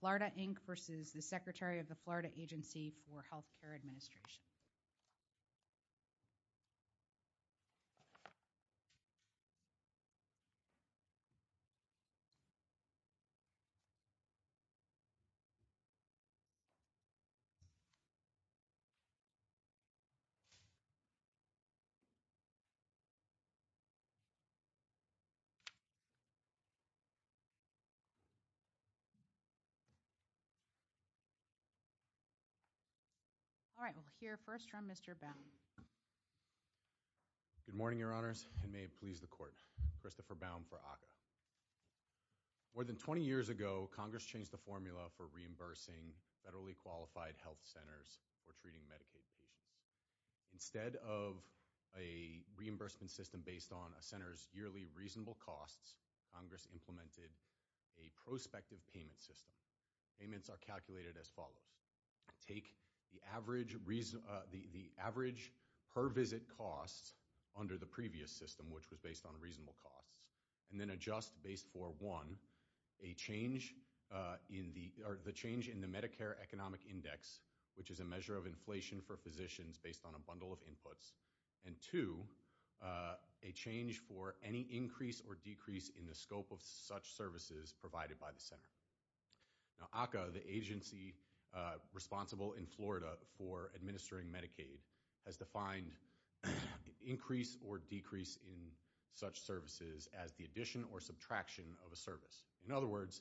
Florida, Inc. v. Secretary, Florida Agency for Health Care Administration All right. We'll hear first from Mr. Baum. Good morning, Your Honors, and may it please the Court. Christopher Baum for ACCA. More than 20 years ago, Congress changed the formula for reimbursing federally qualified health centers for treating Medicaid patients. Instead of a reimbursement system based on a center's yearly reasonable costs, Congress implemented a prospective payment system. Payments are calculated as follows. Take the average per-visit costs under the previous system, which was based on reasonable costs, and then adjust based for, one, the change in the Medicare Economic Index, which is a measure of inflation for physicians based on a bundle of inputs, and, two, a change for any increase or decrease in the scope of such services provided by the center. Now, ACCA, the agency responsible in Florida for administering Medicaid, has defined increase or decrease in such services as the addition or subtraction of a service. In other words,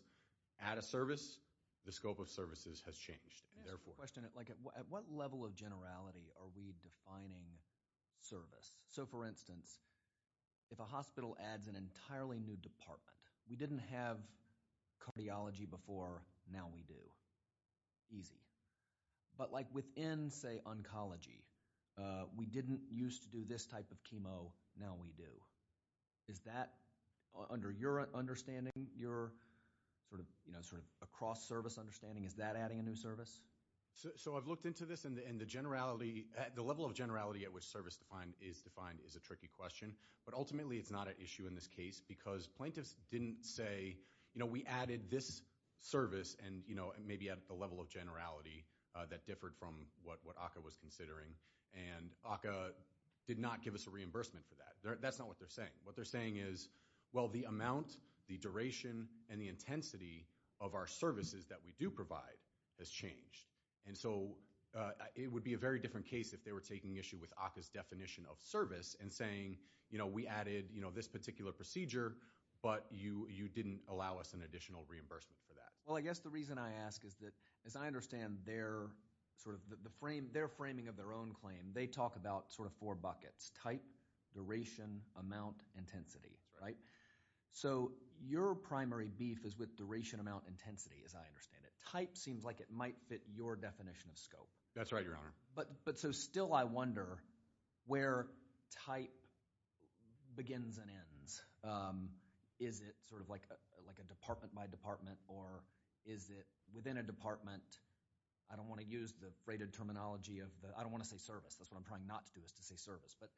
at a service, the scope of services has changed. At what level of generality are we defining service? So, for instance, if a hospital adds an entirely new department, we didn't have cardiology before, now we do. Easy. But, like, within, say, oncology, we didn't used to do this type of chemo, now we do. Is that, under your understanding, your sort of across-service understanding, is that adding a new service? So, I've looked into this, and the level of generality at which service is defined is a tricky question. But, ultimately, it's not an issue in this case, because plaintiffs didn't say, you know, we added this service, and, you know, maybe at the level of generality that differed from what ACCA was considering. And ACCA did not give us a reimbursement for that. That's not what they're saying. What they're saying is, well, the amount, the duration, and the intensity of our services that we do provide has changed. And so, it would be a very different case if they were taking issue with ACCA's definition of service and saying, you know, we added, you know, this particular procedure, but you didn't allow us an additional reimbursement for that. Well, I guess the reason I ask is that, as I understand their sort of the frame, their framing of their own claim, they talk about sort of four buckets, type, duration, amount, intensity, right? So, your primary beef is with duration, amount, intensity, as I understand it. Type seems like it might fit your definition of scope. That's right, Your Honor. But so still I wonder where type begins and ends. Is it sort of like a department by department, or is it within a department? I don't want to use the freighted terminology of the – I don't want to say service. That's what I'm trying not to do is to say service, but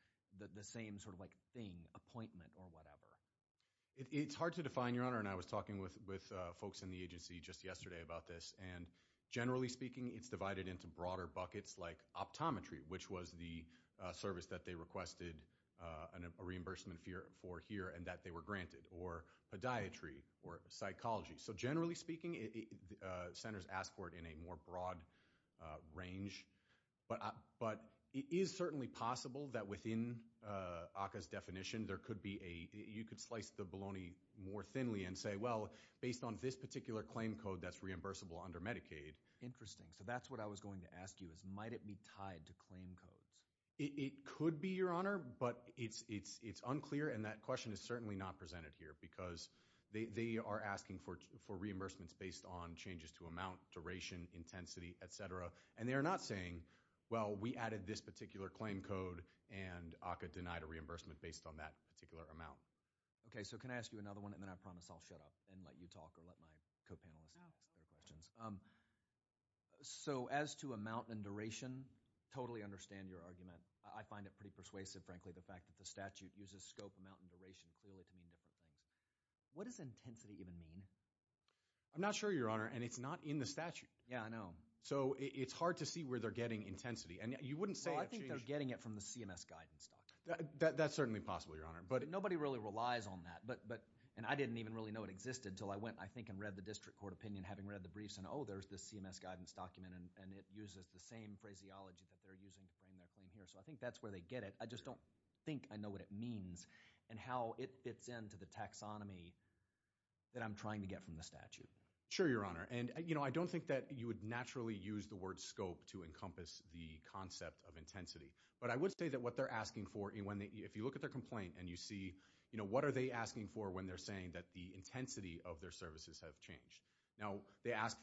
the same sort of like thing, appointment, or whatever. It's hard to define, Your Honor, and I was talking with folks in the agency just yesterday about this. And generally speaking, it's divided into broader buckets like optometry, which was the service that they requested a reimbursement for here and that they were granted, or podiatry, or psychology. So generally speaking, centers ask for it in a more broad range. But it is certainly possible that within ACCA's definition there could be a – based on this particular claim code that's reimbursable under Medicaid. Interesting. So that's what I was going to ask you is might it be tied to claim codes? It could be, Your Honor, but it's unclear, and that question is certainly not presented here because they are asking for reimbursements based on changes to amount, duration, intensity, et cetera. And they are not saying, well, we added this particular claim code and ACCA denied a reimbursement based on that particular amount. Okay, so can I ask you another one? And then I promise I'll shut up and let you talk or let my co-panelists ask their questions. So as to amount and duration, totally understand your argument. I find it pretty persuasive, frankly, the fact that the statute uses scope, amount, and duration clearly to mean different things. What does intensity even mean? I'm not sure, Your Honor, and it's not in the statute. Yeah, I know. So it's hard to see where they're getting intensity. And you wouldn't say it changed – Well, I think they're getting it from the CMS guidance document. That's certainly possible, Your Honor. But nobody really relies on that, and I didn't even really know it existed until I went, I think, and read the district court opinion having read the briefs and, oh, there's this CMS guidance document, and it uses the same phraseology that they're using to frame their claim here. So I think that's where they get it. I just don't think I know what it means and how it fits into the taxonomy that I'm trying to get from the statute. Sure, Your Honor. And I don't think that you would naturally use the word scope to encompass the concept of intensity. But I would say that what they're asking for, if you look at their complaint and you see what are they asking for when they're saying that the intensity of their services have changed. Now, they ask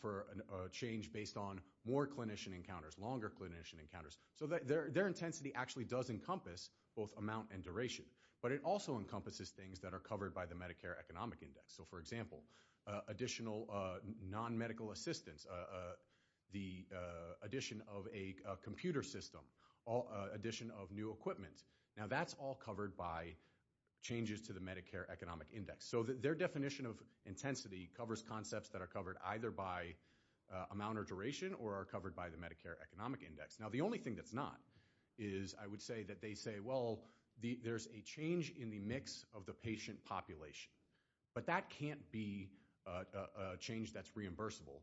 for a change based on more clinician encounters, longer clinician encounters. So their intensity actually does encompass both amount and duration, but it also encompasses things that are covered by the Medicare Economic Index. So, for example, additional non-medical assistance, the addition of a computer system, addition of new equipment. Now, that's all covered by changes to the Medicare Economic Index. So their definition of intensity covers concepts that are covered either by amount or duration or are covered by the Medicare Economic Index. Now, the only thing that's not is I would say that they say, well, there's a change in the mix of the patient population. But that can't be a change that's reimbursable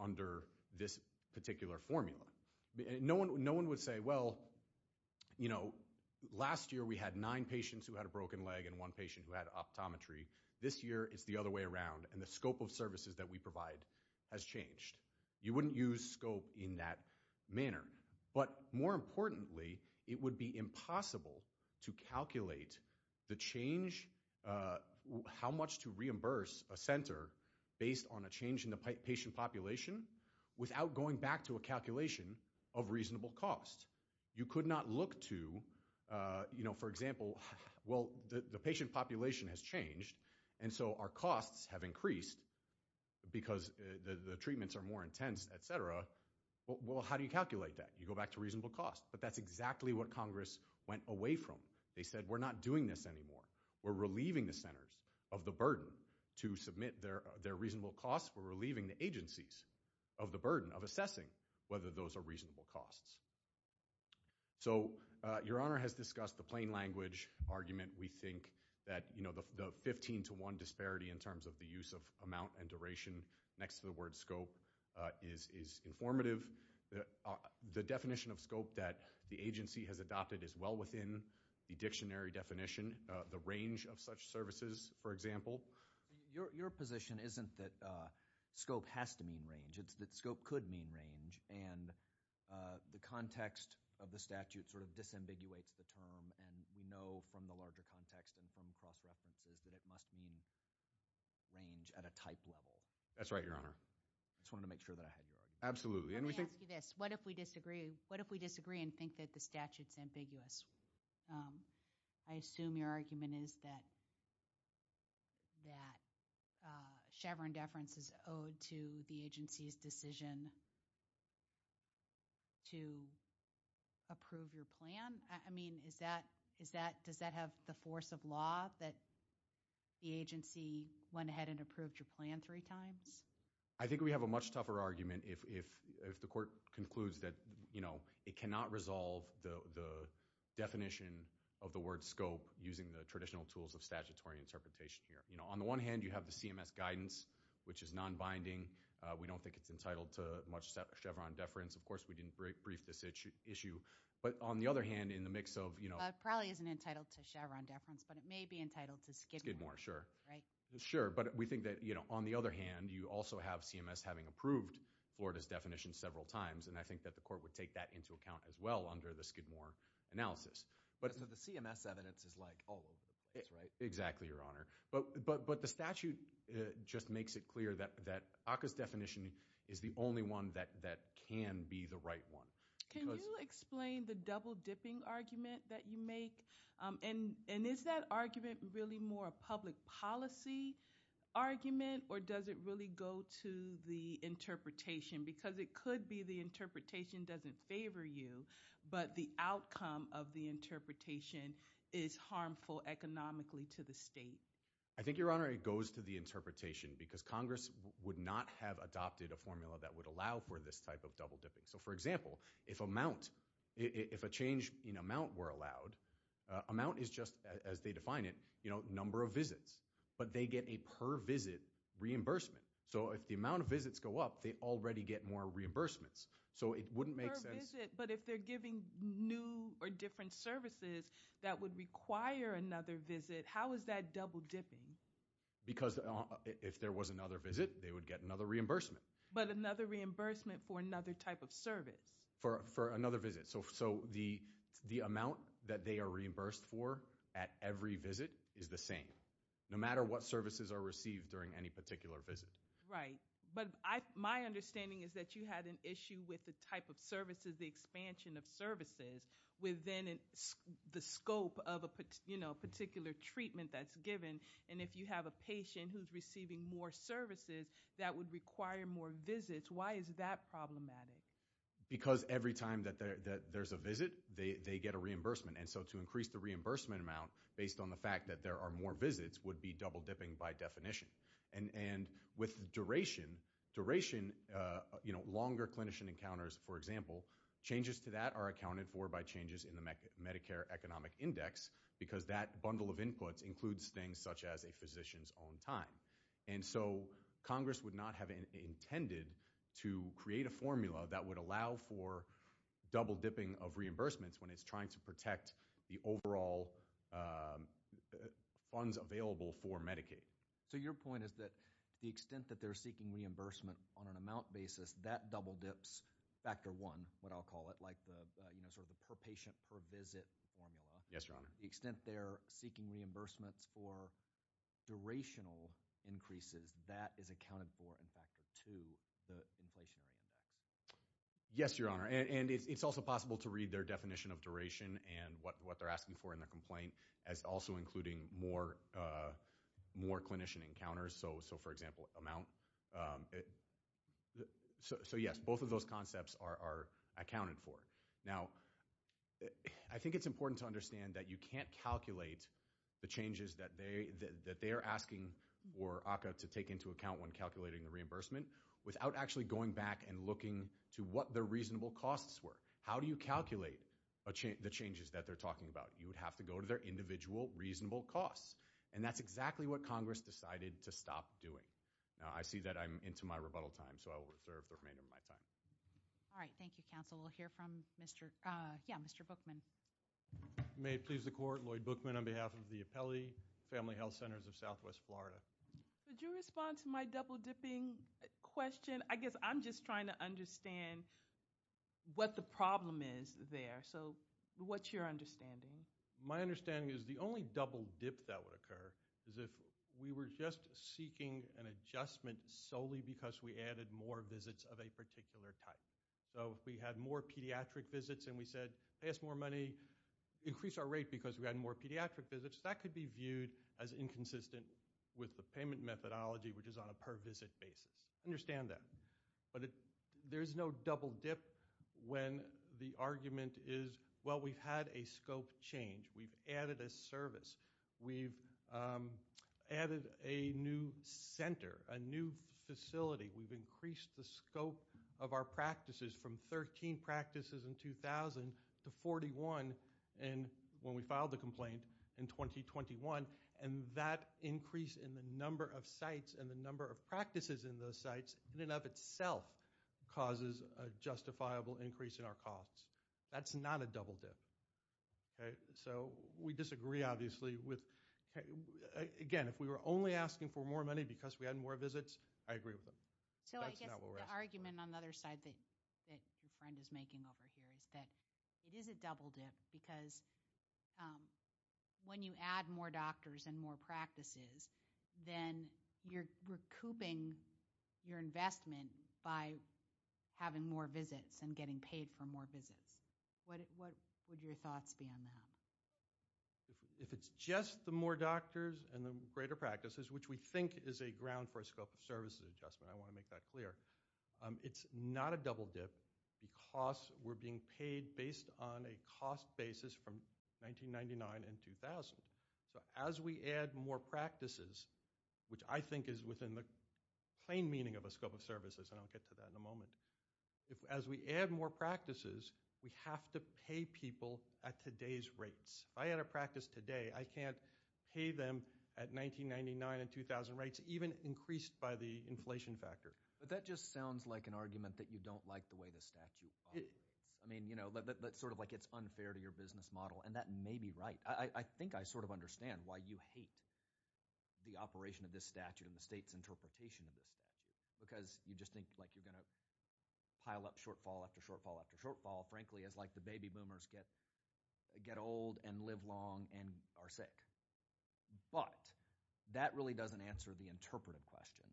under this particular formula. No one would say, well, you know, last year we had nine patients who had a broken leg and one patient who had optometry. This year it's the other way around, and the scope of services that we provide has changed. You wouldn't use scope in that manner. But more importantly, it would be impossible to calculate the change, how much to reimburse a center based on a change in the patient population without going back to a calculation of reasonable cost. You could not look to, you know, for example, well, the patient population has changed, and so our costs have increased because the treatments are more intense, et cetera. Well, how do you calculate that? You go back to reasonable cost. But that's exactly what Congress went away from. They said we're not doing this anymore. We're relieving the centers of the burden to submit their reasonable costs. We're relieving the agencies of the burden of assessing whether those are reasonable costs. So Your Honor has discussed the plain language argument. We think that, you know, the 15 to 1 disparity in terms of the use of amount and duration next to the word scope is informative. The definition of scope that the agency has adopted is well within the dictionary definition. The range of such services, for example. Your position isn't that scope has to mean range. It's that scope could mean range, and the context of the statute sort of disambiguates the term, and we know from the larger context and from cross-references that it must mean range at a type level. That's right, Your Honor. I just wanted to make sure that I had your argument. Absolutely. Let me ask you this. What if we disagree and think that the statute's ambiguous? I assume your argument is that Chevron deference is owed to the agency's decision to approve your plan. I mean, does that have the force of law that the agency went ahead and approved your plan three times? I think we have a much tougher argument if the court concludes that, you know, it cannot resolve the definition of the word scope using the traditional tools of statutory interpretation here. You know, on the one hand, you have the CMS guidance, which is nonbinding. We don't think it's entitled to much Chevron deference. Of course, we didn't brief this issue. But on the other hand, in the mix of, you know— It probably isn't entitled to Chevron deference, but it may be entitled to Skidmore. Skidmore, sure. Right? Sure. But we think that, you know, on the other hand, you also have CMS having approved Florida's definition several times, and I think that the court would take that into account as well under the Skidmore analysis. So the CMS evidence is, like, all over the place, right? Exactly, Your Honor. But the statute just makes it clear that ACCA's definition is the only one that can be the right one. Can you explain the double-dipping argument that you make? And is that argument really more a public policy argument, or does it really go to the interpretation? Because it could be the interpretation doesn't favor you, but the outcome of the interpretation is harmful economically to the state. I think, Your Honor, it goes to the interpretation because Congress would not have adopted a formula that would allow for this type of double-dipping. So, for example, if a change in amount were allowed, amount is just, as they define it, you know, number of visits, but they get a per visit reimbursement. So if the amount of visits go up, they already get more reimbursements. So it wouldn't make sense. Per visit, but if they're giving new or different services that would require another visit, how is that double-dipping? Because if there was another visit, they would get another reimbursement. But another reimbursement for another type of service. For another visit. So the amount that they are reimbursed for at every visit is the same, no matter what services are received during any particular visit. Right. But my understanding is that you had an issue with the type of services, the expansion of services, within the scope of a particular treatment that's given. And if you have a patient who's receiving more services that would require more visits, why is that problematic? Because every time that there's a visit, they get a reimbursement. And so to increase the reimbursement amount based on the fact that there are more visits would be double-dipping by definition. And with duration, duration, you know, longer clinician encounters, for example, changes to that are accounted for by changes in the Medicare Economic Index because that bundle of inputs includes things such as a physician's own time. And so Congress would not have intended to create a formula that would allow for double-dipping of reimbursements when it's trying to protect the overall funds available for Medicaid. So your point is that to the extent that they're seeking reimbursement on an amount basis, that double-dips factor one, what I'll call it, like the sort of the per patient per visit formula. Yes, Your Honor. The extent they're seeking reimbursements for durational increases, that is accounted for in factor two, the inflationary index. Yes, Your Honor. And it's also possible to read their definition of duration and what they're asking for in their complaint as also including more clinician encounters. So, for example, amount. So, yes, both of those concepts are accounted for. Now, I think it's important to understand that you can't calculate the changes that they are asking for ACCA to take into account when calculating the reimbursement without actually going back and looking to what the reasonable costs were. How do you calculate the changes that they're talking about? You would have to go to their individual reasonable costs, and that's exactly what Congress decided to stop doing. Now, I see that I'm into my rebuttal time, so I will reserve the remainder of my time. All right. Thank you, counsel. We'll hear from Mr. Bookman. May it please the Court. Lloyd Bookman on behalf of the Appellee Family Health Centers of Southwest Florida. Would you respond to my double-dipping question? I guess I'm just trying to understand what the problem is there. So, what's your understanding? My understanding is the only double-dip that would occur is if we were just seeking an adjustment solely because we added more visits of a particular type. So, if we had more pediatric visits and we said, ask more money, increase our rate because we had more pediatric visits, that could be viewed as inconsistent with the payment methodology, which is on a per-visit basis. Understand that. But there's no double-dip when the argument is, well, we've had a scope change. We've added a service. We've added a new center, a new facility. We've increased the scope of our practices from 13 practices in 2000 to 41 when we filed the complaint in 2021. And that increase in the number of sites and the number of practices in those sites in and of itself causes a justifiable increase in our costs. That's not a double-dip. So, we disagree, obviously. Again, if we were only asking for more money because we had more visits, I agree with them. So, I guess the argument on the other side that your friend is making over here is that it is a double-dip because when you add more doctors and more practices, then you're recouping your investment by having more visits and getting paid for more visits. What would your thoughts be on that? If it's just the more doctors and the greater practices, which we think is a ground for a scope of services adjustment, I want to make that clear, it's not a double-dip because we're being paid based on a cost basis from 1999 and 2000. So, as we add more practices, which I think is within the plain meaning of a scope of services, and I'll get to that in a moment, as we add more practices, we have to pay people at today's rates. If I had a practice today, I can't pay them at 1999 and 2000 rates, even increased by the inflation factor. But that just sounds like an argument that you don't like the way the statute operates. It's sort of like it's unfair to your business model, and that may be right. I think I sort of understand why you hate the operation of this statute and the state's interpretation of this statute because you just think like you're going to pile up shortfall after shortfall after shortfall, frankly, as like the baby boomers get old and live long and are sick. But that really doesn't answer the interpretive question.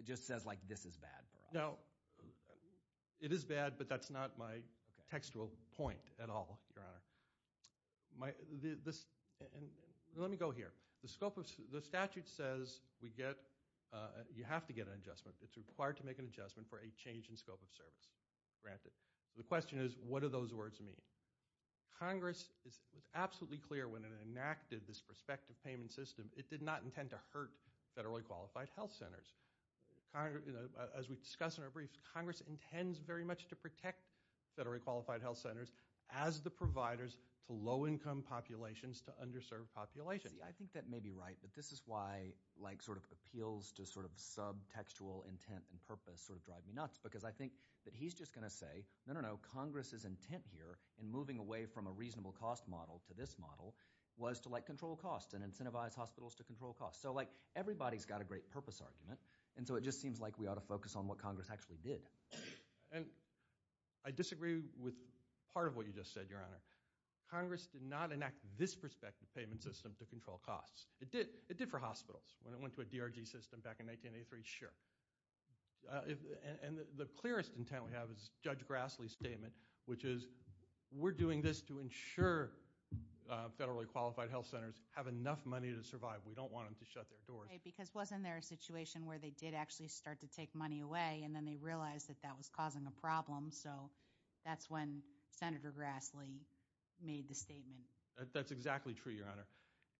It just says like this is bad for us. No, it is bad, but that's not my textual point at all, Your Honor. Let me go here. The statute says you have to get an adjustment. It's required to make an adjustment for a change in scope of service granted. The question is what do those words mean? Congress was absolutely clear when it enacted this prospective payment system. It did not intend to hurt federally qualified health centers. As we discussed in our briefs, Congress intends very much to protect federally qualified health centers as the providers to low-income populations, to underserved populations. See, I think that may be right, but this is why like sort of appeals to sort of subtextual intent and purpose sort of drive me nuts because I think that he's just going to say, no, no, no, Congress's intent here in moving away from a reasonable cost model to this model was to like control costs and incentivize hospitals to control costs. So like everybody's got a great purpose argument, and so it just seems like we ought to focus on what Congress actually did. And I disagree with part of what you just said, Your Honor. Congress did not enact this prospective payment system to control costs. It did for hospitals. When it went to a DRG system back in 1983, sure. And the clearest intent we have is Judge Grassley's statement, which is we're doing this to ensure federally qualified health centers have enough money to survive. We don't want them to shut their doors. Because wasn't there a situation where they did actually start to take money away and then they realized that that was causing a problem? So that's when Senator Grassley made the statement. That's exactly true, Your Honor.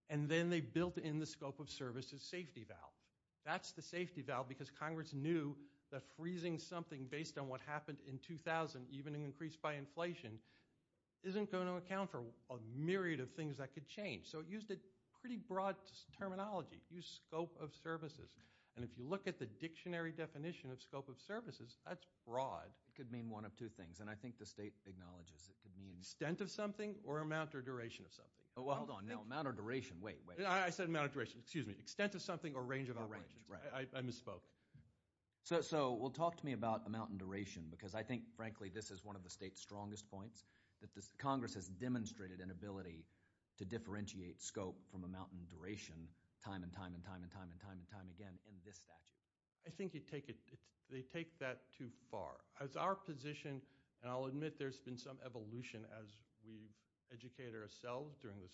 And then they built in the scope of services safety valve. That's the safety valve because Congress knew that freezing something based on what happened in 2000, even increased by inflation, isn't going to account for a myriad of things that could change. So it used a pretty broad terminology. It used scope of services. And if you look at the dictionary definition of scope of services, that's broad. It could mean one of two things, and I think the state acknowledges it could mean. Extent of something or amount or duration of something. Hold on. No, amount or duration. Wait, wait. I said amount of duration. Excuse me. Extent of something or range of operations. I misspoke. So talk to me about amount and duration because I think, frankly, this is one of the state's strongest points, that Congress has demonstrated an ability to differentiate scope from amount and duration time and time and time and time and time again. I think they take that too far. As our position, and I'll admit there's been some evolution as we've educated ourselves during the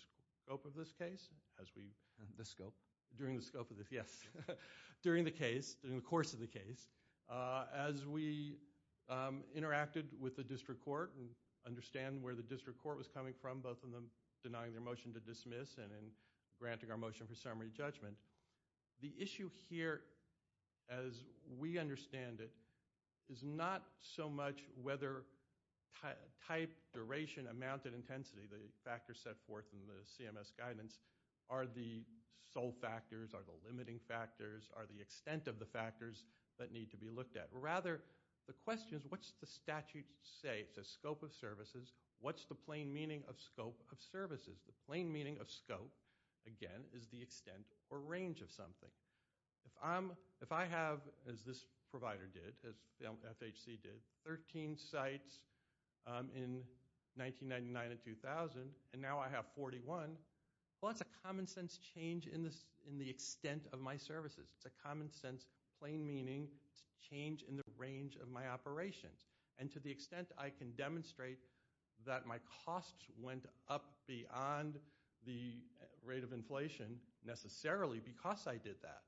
scope of this case. The scope? During the scope of this, yes. During the case, during the course of the case. As we interacted with the district court and understand where the district court was coming from, both of them denying their motion to dismiss and granting our motion for summary judgment. The issue here, as we understand it, is not so much whether type, duration, amount, and intensity, the factors set forth in the CMS guidance, are the sole factors, are the limiting factors, are the extent of the factors that need to be looked at. Rather, the question is what's the statute say? It says scope of services. What's the plain meaning of scope of services? The plain meaning of scope, again, is the extent or range of something. If I have, as this provider did, as FHC did, 13 sites in 1999 and 2000, and now I have 41, well, that's a common sense change in the extent of my services. It's a common sense plain meaning change in the range of my operations. And to the extent I can demonstrate that my costs went up beyond the rate of inflation necessarily because I did that,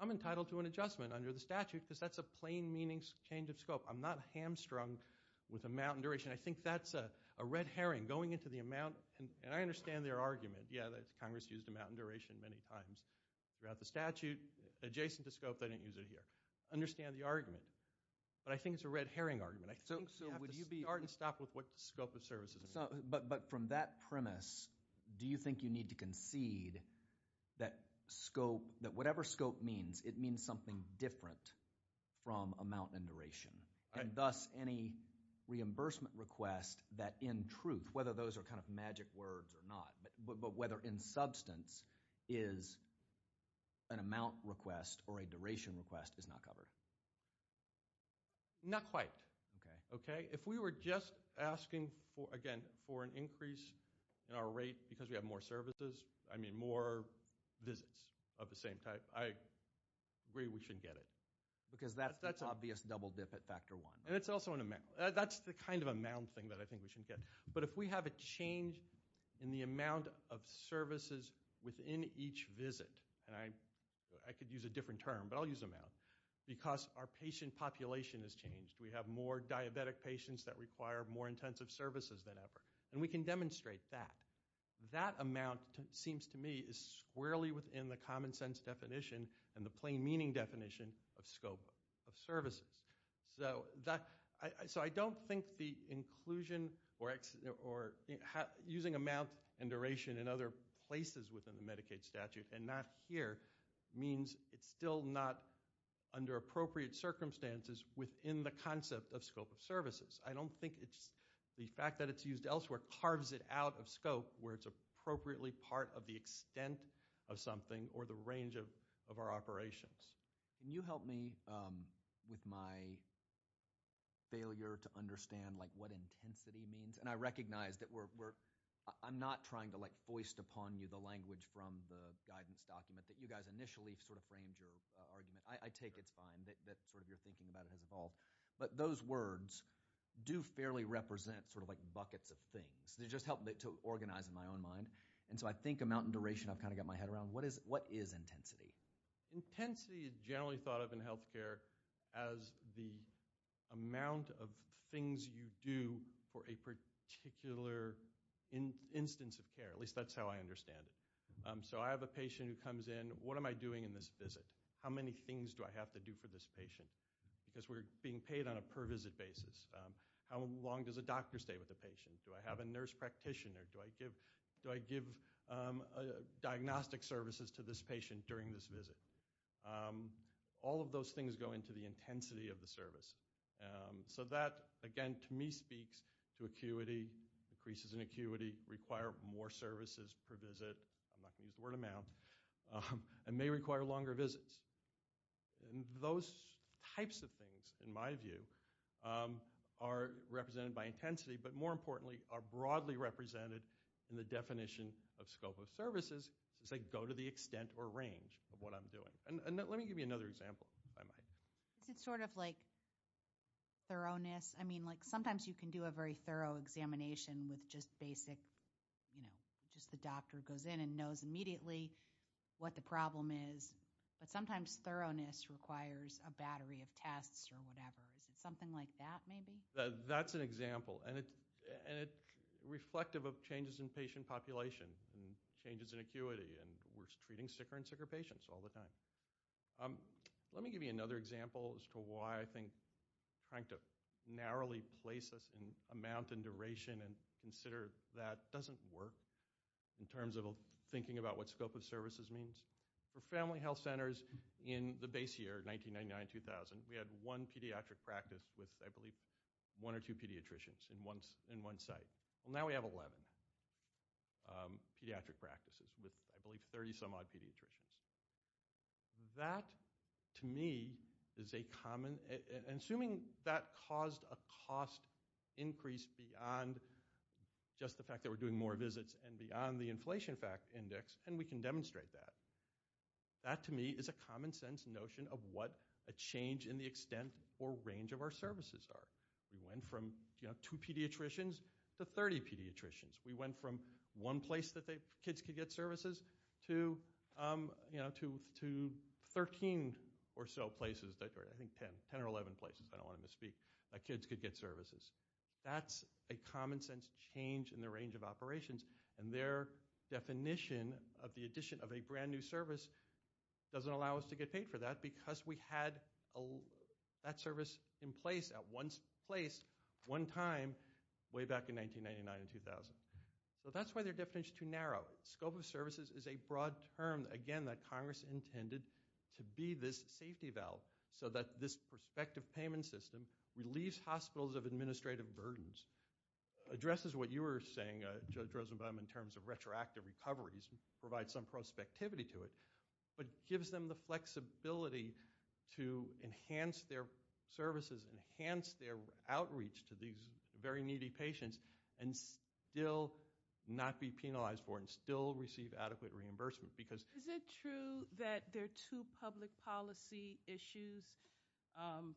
I'm entitled to an adjustment under the statute because that's a plain meaning change of scope. I'm not hamstrung with amount and duration. I think that's a red herring going into the amount, and I understand their argument. Yeah, Congress used amount and duration many times throughout the statute. Adjacent to scope, they didn't use it here. I understand the argument, but I think it's a red herring argument. I think you have to start and stop with what the scope of services is. But from that premise, do you think you need to concede that whatever scope means, it means something different from amount and duration, and thus any reimbursement request that in truth, whether those are kind of magic words or not, but whether in substance is an amount request or a duration request is not covered? Not quite. Okay. If we were just asking, again, for an increase in our rate because we have more services, I mean more visits of the same type, I agree we shouldn't get it. Because that's the obvious double dip at factor one. And it's also an amount. That's the kind of amount thing that I think we shouldn't get. But if we have a change in the amount of services within each visit, and I could use a different term, but I'll use amount, because our patient population has changed. We have more diabetic patients that require more intensive services than ever. And we can demonstrate that. That amount seems to me is squarely within the common sense definition and the plain meaning definition of scope of services. So I don't think the inclusion or using amount and duration in other places within the Medicaid statute and not here means it's still not under appropriate circumstances within the concept of scope of services. I don't think the fact that it's used elsewhere carves it out of scope where it's appropriately part of the extent of something or the range of our operations. Can you help me with my failure to understand what intensity means? And I recognize that I'm not trying to foist upon you the language from the guidance document that you guys initially sort of framed your argument. I take it's fine that sort of your thinking about it has evolved. But those words do fairly represent sort of like buckets of things. They just help me to organize in my own mind. And so I think amount and duration, I've kind of got my head around. What is intensity? Intensity is generally thought of in healthcare as the amount of things you do for a particular instance of care. At least that's how I understand it. So I have a patient who comes in. What am I doing in this visit? How many things do I have to do for this patient? Because we're being paid on a per visit basis. How long does a doctor stay with the patient? Do I have a nurse practitioner? Do I give diagnostic services to this patient during this visit? All of those things go into the intensity of the service. So that, again, to me speaks to acuity, increases in acuity, require more services per visit. I'm not going to use the word amount. And may require longer visits. And those types of things, in my view, are represented by intensity, but more importantly are broadly represented in the definition of scope of services. So I go to the extent or range of what I'm doing. And let me give you another example if I might. Is it sort of like thoroughness? I mean, like sometimes you can do a very thorough examination with just basic, you know, just the doctor goes in and knows immediately what the problem is. But sometimes thoroughness requires a battery of tests or whatever. Is it something like that maybe? That's an example. And it's reflective of changes in patient population and changes in acuity. And we're treating sicker and sicker patients all the time. Let me give you another example as to why I think trying to narrowly place this amount and duration and consider that doesn't work in terms of thinking about what scope of services means. For family health centers in the base year, 1999-2000, we had one pediatric practice with, I believe, one or two pediatricians in one site. Well, now we have 11 pediatric practices with, I believe, 30-some-odd pediatricians. That, to me, is a common – and assuming that caused a cost increase beyond just the fact that we're doing more visits and beyond the inflation fact index, and we can demonstrate that, that, to me, is a common-sense notion of what a change in the extent or range of our services are. We went from two pediatricians to 30 pediatricians. We went from one place that kids could get services to 13 or so places, or I think 10 or 11 places, I don't want to misspeak, that kids could get services. That's a common-sense change in the range of operations, and their definition of the addition of a brand-new service doesn't allow us to get paid for that because we had that service in place at one place, one time, way back in 1999-2000. So that's why their definition is too narrow. Scope of services is a broad term, again, that Congress intended to be this safety valve so that this prospective payment system relieves hospitals of administrative burdens, addresses what you were saying, Judge Rosenbaum, in terms of retroactive recoveries, provides some prospectivity to it, but gives them the flexibility to enhance their services, enhance their outreach to these very needy patients, and still not be penalized for it and still receive adequate reimbursement. Is it true that there are two public policy issues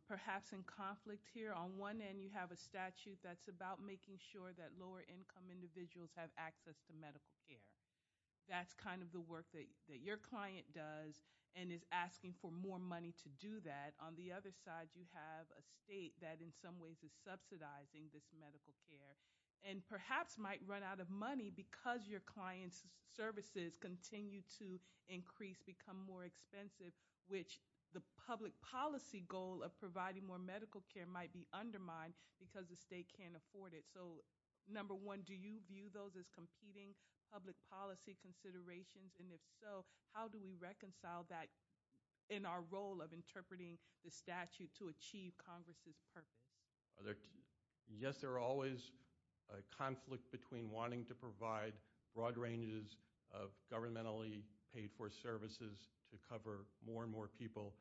perhaps in conflict here? On one end, you have a statute that's about making sure that lower-income individuals have access to medical care. That's kind of the work that your client does and is asking for more money to do that. On the other side, you have a state that in some ways is subsidizing this medical care and perhaps might run out of money because your client's services continue to increase, become more expensive, which the public policy goal of providing more medical care might be undermined because the state can't afford it. So number one, do you view those as competing public policy considerations? And if so, how do we reconcile that in our role of interpreting the statute to achieve Congress's purpose? Yes, there are always a conflict between wanting to provide broad ranges of governmentally paid-for services to cover more and more people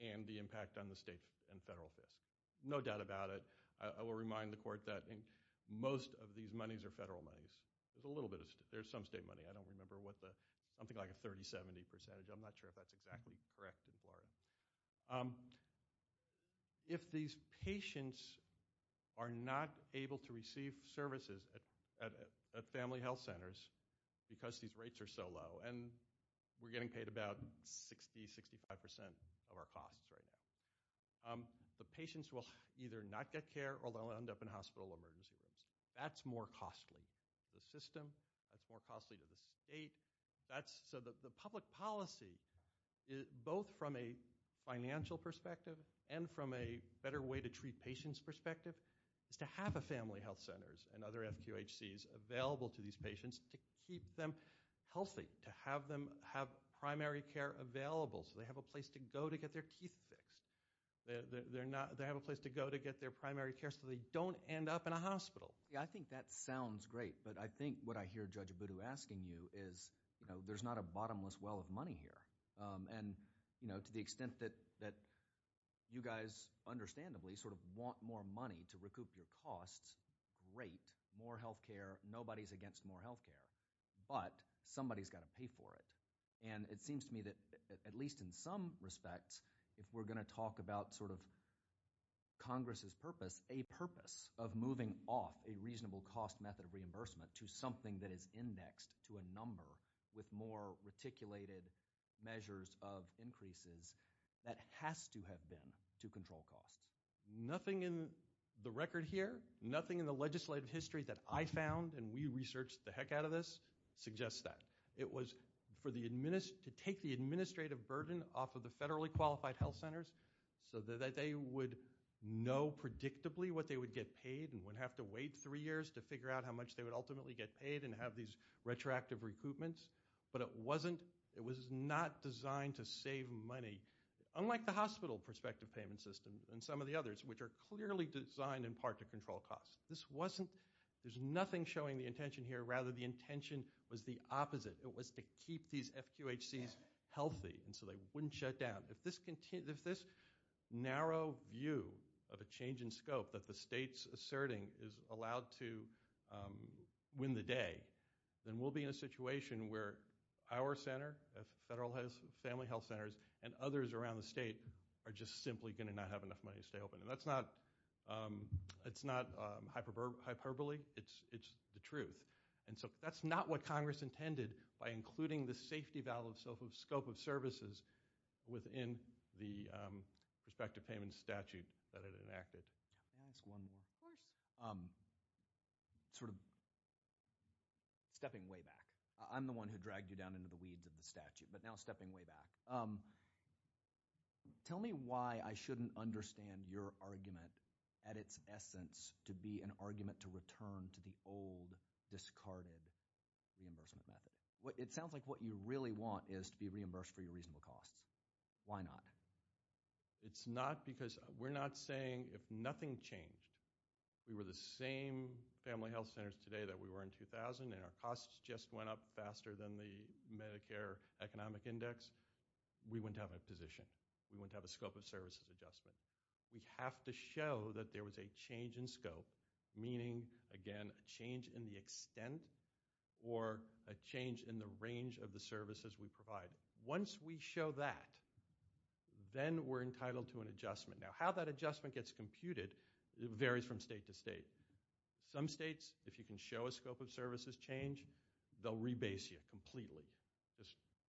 and the impact on the state and federal affairs. No doubt about it. I will remind the court that most of these monies are federal monies. There's a little bit of – there's some state money. I don't remember what the – something like a 30-70 percentage. I'm not sure if that's exactly correct in Florida. If these patients are not able to receive services at family health centers because these rates are so low and we're getting paid about 60%, 65% of our costs right now, the patients will either not get care or they'll end up in hospital emergency rooms. That's more costly to the system. That's more costly to the state. So the public policy, both from a financial perspective and from a better way to treat patients perspective, is to have a family health centers and other FQHCs available to these patients to keep them healthy, to have them have primary care available so they have a place to go to get their teeth fixed. They have a place to go to get their primary care so they don't end up in a hospital. I think that sounds great, but I think what I hear Judge Abudu asking you is there's not a bottomless well of money here. And to the extent that you guys understandably sort of want more money to recoup your costs, great. More health care. Nobody's against more health care. But somebody's got to pay for it. And it seems to me that at least in some respects, if we're going to talk about sort of Congress's purpose, it's a purpose of moving off a reasonable cost method of reimbursement to something that is indexed to a number with more reticulated measures of increases that has to have been to control costs. Nothing in the record here, nothing in the legislative history that I found, and we researched the heck out of this, suggests that. It was to take the administrative burden off of the federally qualified health centers so that they would know predictably what they would get paid and would have to wait three years to figure out how much they would ultimately get paid and have these retroactive recoupments. But it was not designed to save money, unlike the hospital prospective payment system and some of the others, which are clearly designed in part to control costs. There's nothing showing the intention here. Rather, the intention was the opposite. It was to keep these FQHCs healthy so they wouldn't shut down. If this narrow view of a change in scope that the state's asserting is allowed to win the day, then we'll be in a situation where our center, federal family health centers, and others around the state are just simply going to not have enough money to stay open. And that's not hyperbole. It's the truth. And so that's not what Congress intended by including the safety valve of scope of services within the prospective payment statute that it enacted. Can I ask one more? Of course. Sort of stepping way back. I'm the one who dragged you down into the weeds of the statute, but now stepping way back. Tell me why I shouldn't understand your argument at its essence to be an argument to return to the old, discarded reimbursement method. It sounds like what you really want is to be reimbursed for your reasonable costs. Why not? It's not because we're not saying if nothing changed. We were the same family health centers today that we were in 2000, and our costs just went up faster than the Medicare economic index. We wouldn't have a position. We wouldn't have a scope of services adjustment. We have to show that there was a change in scope, meaning, again, a change in the extent or a change in the range of the services we provide. Once we show that, then we're entitled to an adjustment. Now, how that adjustment gets computed varies from state to state. Some states, if you can show a scope of services change, they'll rebase you completely.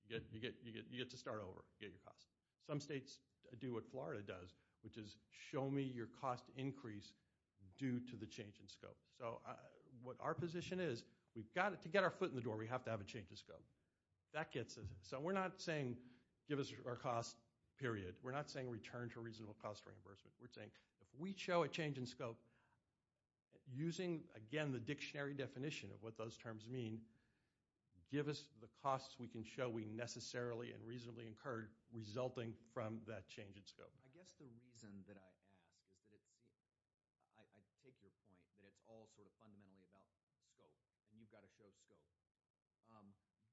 You get to start over, get your costs. Some states do what Florida does, which is show me your cost increase due to the change in scope. So what our position is, we've got to get our foot in the door. We have to have a change in scope. So we're not saying give us our cost, period. We're not saying return to reasonable cost reimbursement. We're saying if we show a change in scope, using, again, the dictionary definition of what those terms mean, give us the costs we can show we necessarily and reasonably incurred resulting from that change in scope. I guess the reason that I ask is that it's – I take your point that it's all sort of fundamentally about scope, and you've got to show scope.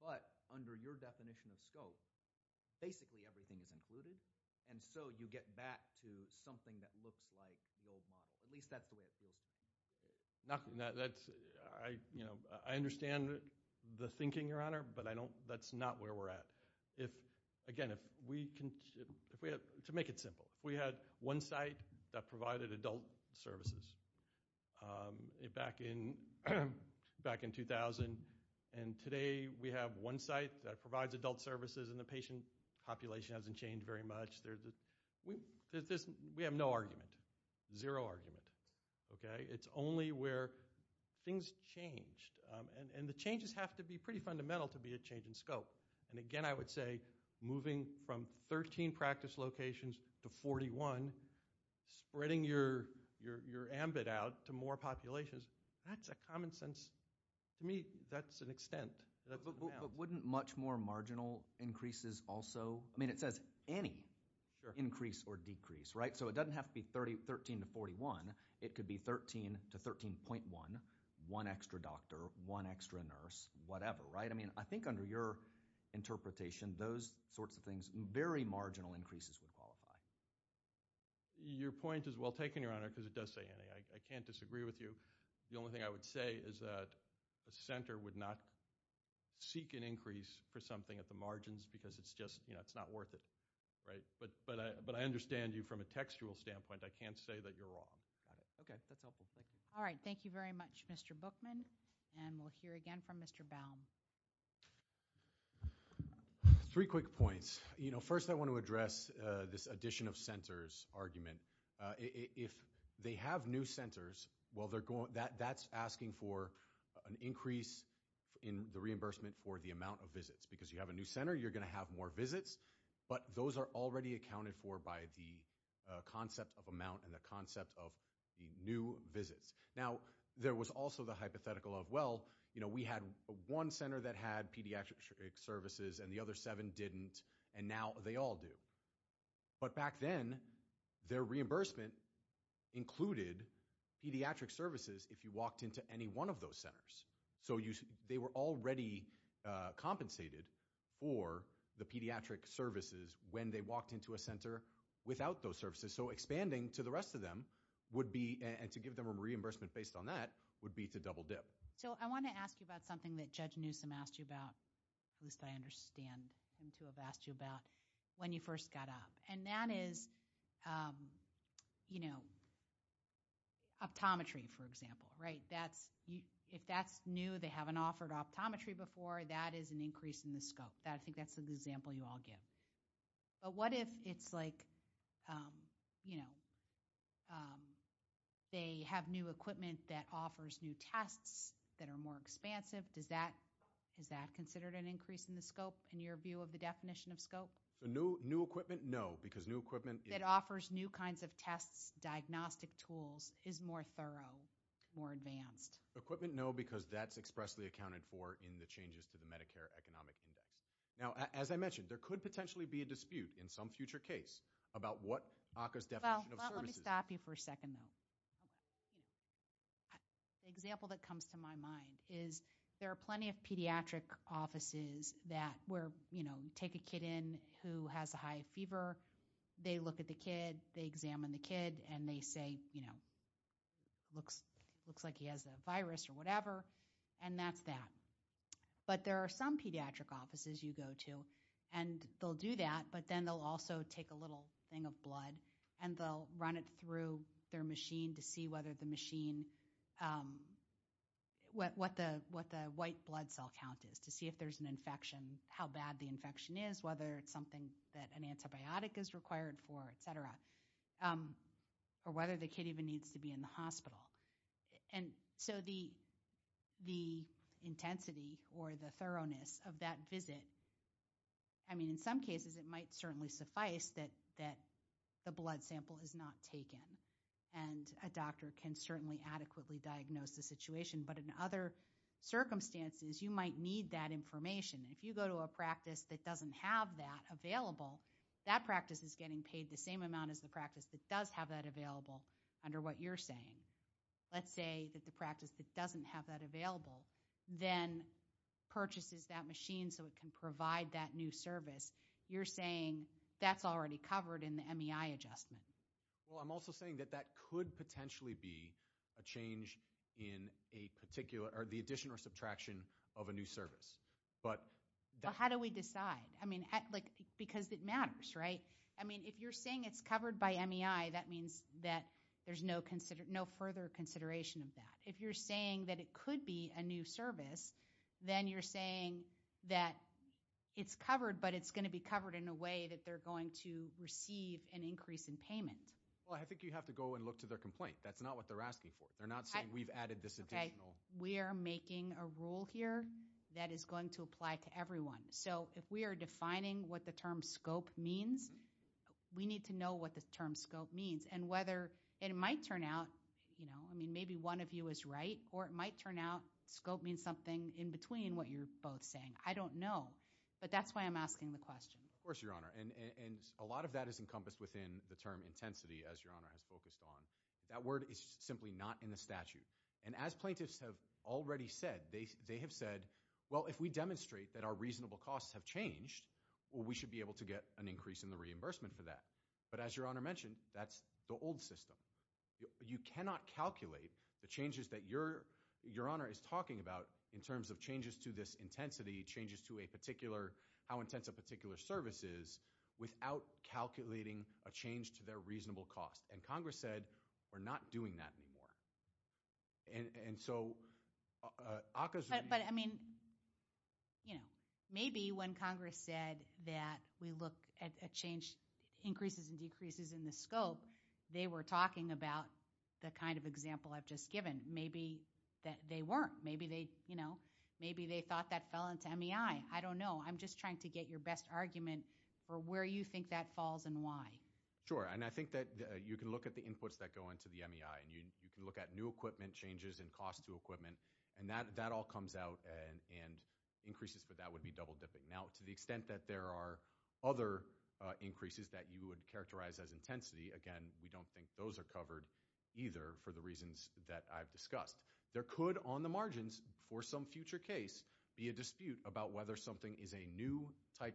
But under your definition of scope, basically everything is included, and so you get back to something that looks like the old model. At least that's the way it feels to me. I understand the thinking, Your Honor, but that's not where we're at. Again, to make it simple, if we had one site that provided adult services back in 2000, and today we have one site that provides adult services and the patient population hasn't changed very much, we have no argument, zero argument. It's only where things changed, and the changes have to be pretty fundamental to be a change in scope. Again, I would say moving from 13 practice locations to 41, spreading your ambit out to more populations, that's a common sense – to me that's an extent. But wouldn't much more marginal increases also – I mean it says any increase or decrease, right? So it doesn't have to be 13 to 41. It could be 13 to 13.1, one extra doctor, one extra nurse, whatever, right? I mean I think under your interpretation, those sorts of things, very marginal increases would qualify. Your point is well taken, Your Honor, because it does say any. I can't disagree with you. The only thing I would say is that a center would not seek an increase for something at the margins because it's just not worth it, right? But I understand you from a textual standpoint. I can't say that you're wrong. Okay, that's helpful. Thank you. All right, thank you very much, Mr. Bookman, and we'll hear again from Mr. Baum. Three quick points. First, I want to address this addition of centers argument. If they have new centers, well, that's asking for an increase in the reimbursement for the amount of visits because you have a new center, you're going to have more visits, but those are already accounted for by the concept of amount and the concept of the new visits. Now, there was also the hypothetical of, well, we had one center that had pediatric services and the other seven didn't, and now they all do. But back then, their reimbursement included pediatric services if you walked into any one of those centers. So they were already compensated for the pediatric services when they walked into a center without those services. So expanding to the rest of them would be, and to give them a reimbursement based on that, would be to double dip. So I want to ask you about something that Judge Newsom asked you about, at least I understand and to have asked you about, when you first got up. And that is, you know, optometry, for example, right? If that's new, they haven't offered optometry before, that is an increase in the scope. I think that's an example you all give. But what if it's like, you know, they have new equipment that offers new tests that are more expansive. Is that considered an increase in the scope in your view of the definition of scope? So new equipment, no, because new equipment is That offers new kinds of tests, diagnostic tools, is more thorough, more advanced. Equipment, no, because that's expressly accounted for in the changes to the Medicare Economic Index. Now, as I mentioned, there could potentially be a dispute in some future case about what ACCA's definition of services Well, let me stop you for a second, though. The example that comes to my mind is there are plenty of pediatric offices that where, you know, take a kid in who has a high fever. They look at the kid. They examine the kid and they say, you know, looks looks like he has a virus or whatever. And that's that. But there are some pediatric offices you go to and they'll do that. But then they'll also take a little thing of blood and they'll run it through their machine to see whether the machine. What the what the white blood cell count is to see if there's an infection, how bad the infection is, whether it's something that an antibiotic is required for, et cetera, or whether the kid even needs to be in the hospital. And so the the intensity or the thoroughness of that visit. I mean, in some cases, it might certainly suffice that that the blood sample is not taken and a doctor can certainly adequately diagnose the situation. But in other circumstances, you might need that information. If you go to a practice that doesn't have that available, that practice is getting paid the same amount as the practice that does have that available under what you're saying. Let's say that the practice that doesn't have that available then purchases that machine so it can provide that new service. You're saying that's already covered in the MEI adjustment. Well, I'm also saying that that could potentially be a change in a particular or the addition or subtraction of a new service. But how do we decide? I mean, because it matters. Right. I mean, if you're saying it's covered by MEI, that means that there's no further consideration of that. If you're saying that it could be a new service, then you're saying that it's covered but it's going to be covered in a way that they're going to receive an increase in payment. Well, I think you have to go and look to their complaint. That's not what they're asking for. They're not saying we've added this additional- Okay. We are making a rule here that is going to apply to everyone. So if we are defining what the term scope means, we need to know what the term scope means. And whether it might turn out – I mean, maybe one of you is right, or it might turn out scope means something in between what you're both saying. I don't know. But that's why I'm asking the question. Of course, Your Honor. And a lot of that is encompassed within the term intensity, as Your Honor has focused on. That word is simply not in the statute. And as plaintiffs have already said, they have said, well, if we demonstrate that our reasonable costs have changed, well, we should be able to get an increase in the reimbursement for that. But as Your Honor mentioned, that's the old system. You cannot calculate the changes that Your Honor is talking about in terms of changes to this intensity, changes to a particular – how intense a particular service is without calculating a change to their reasonable cost. And Congress said we're not doing that anymore. And so – But, I mean, maybe when Congress said that we look at changes – increases and decreases in the scope, they were talking about the kind of example I've just given. Maybe they weren't. Maybe they thought that fell into MEI. I don't know. I'm just trying to get your best argument for where you think that falls and why. Sure. And I think that you can look at the inputs that go into the MEI, and you can look at new equipment changes and cost to equipment. And that all comes out, and increases for that would be double-dipping. Now, to the extent that there are other increases that you would characterize as intensity, again, we don't think those are covered either for the reasons that I've discussed. There could, on the margins, for some future case, be a dispute about whether something is a new type of service.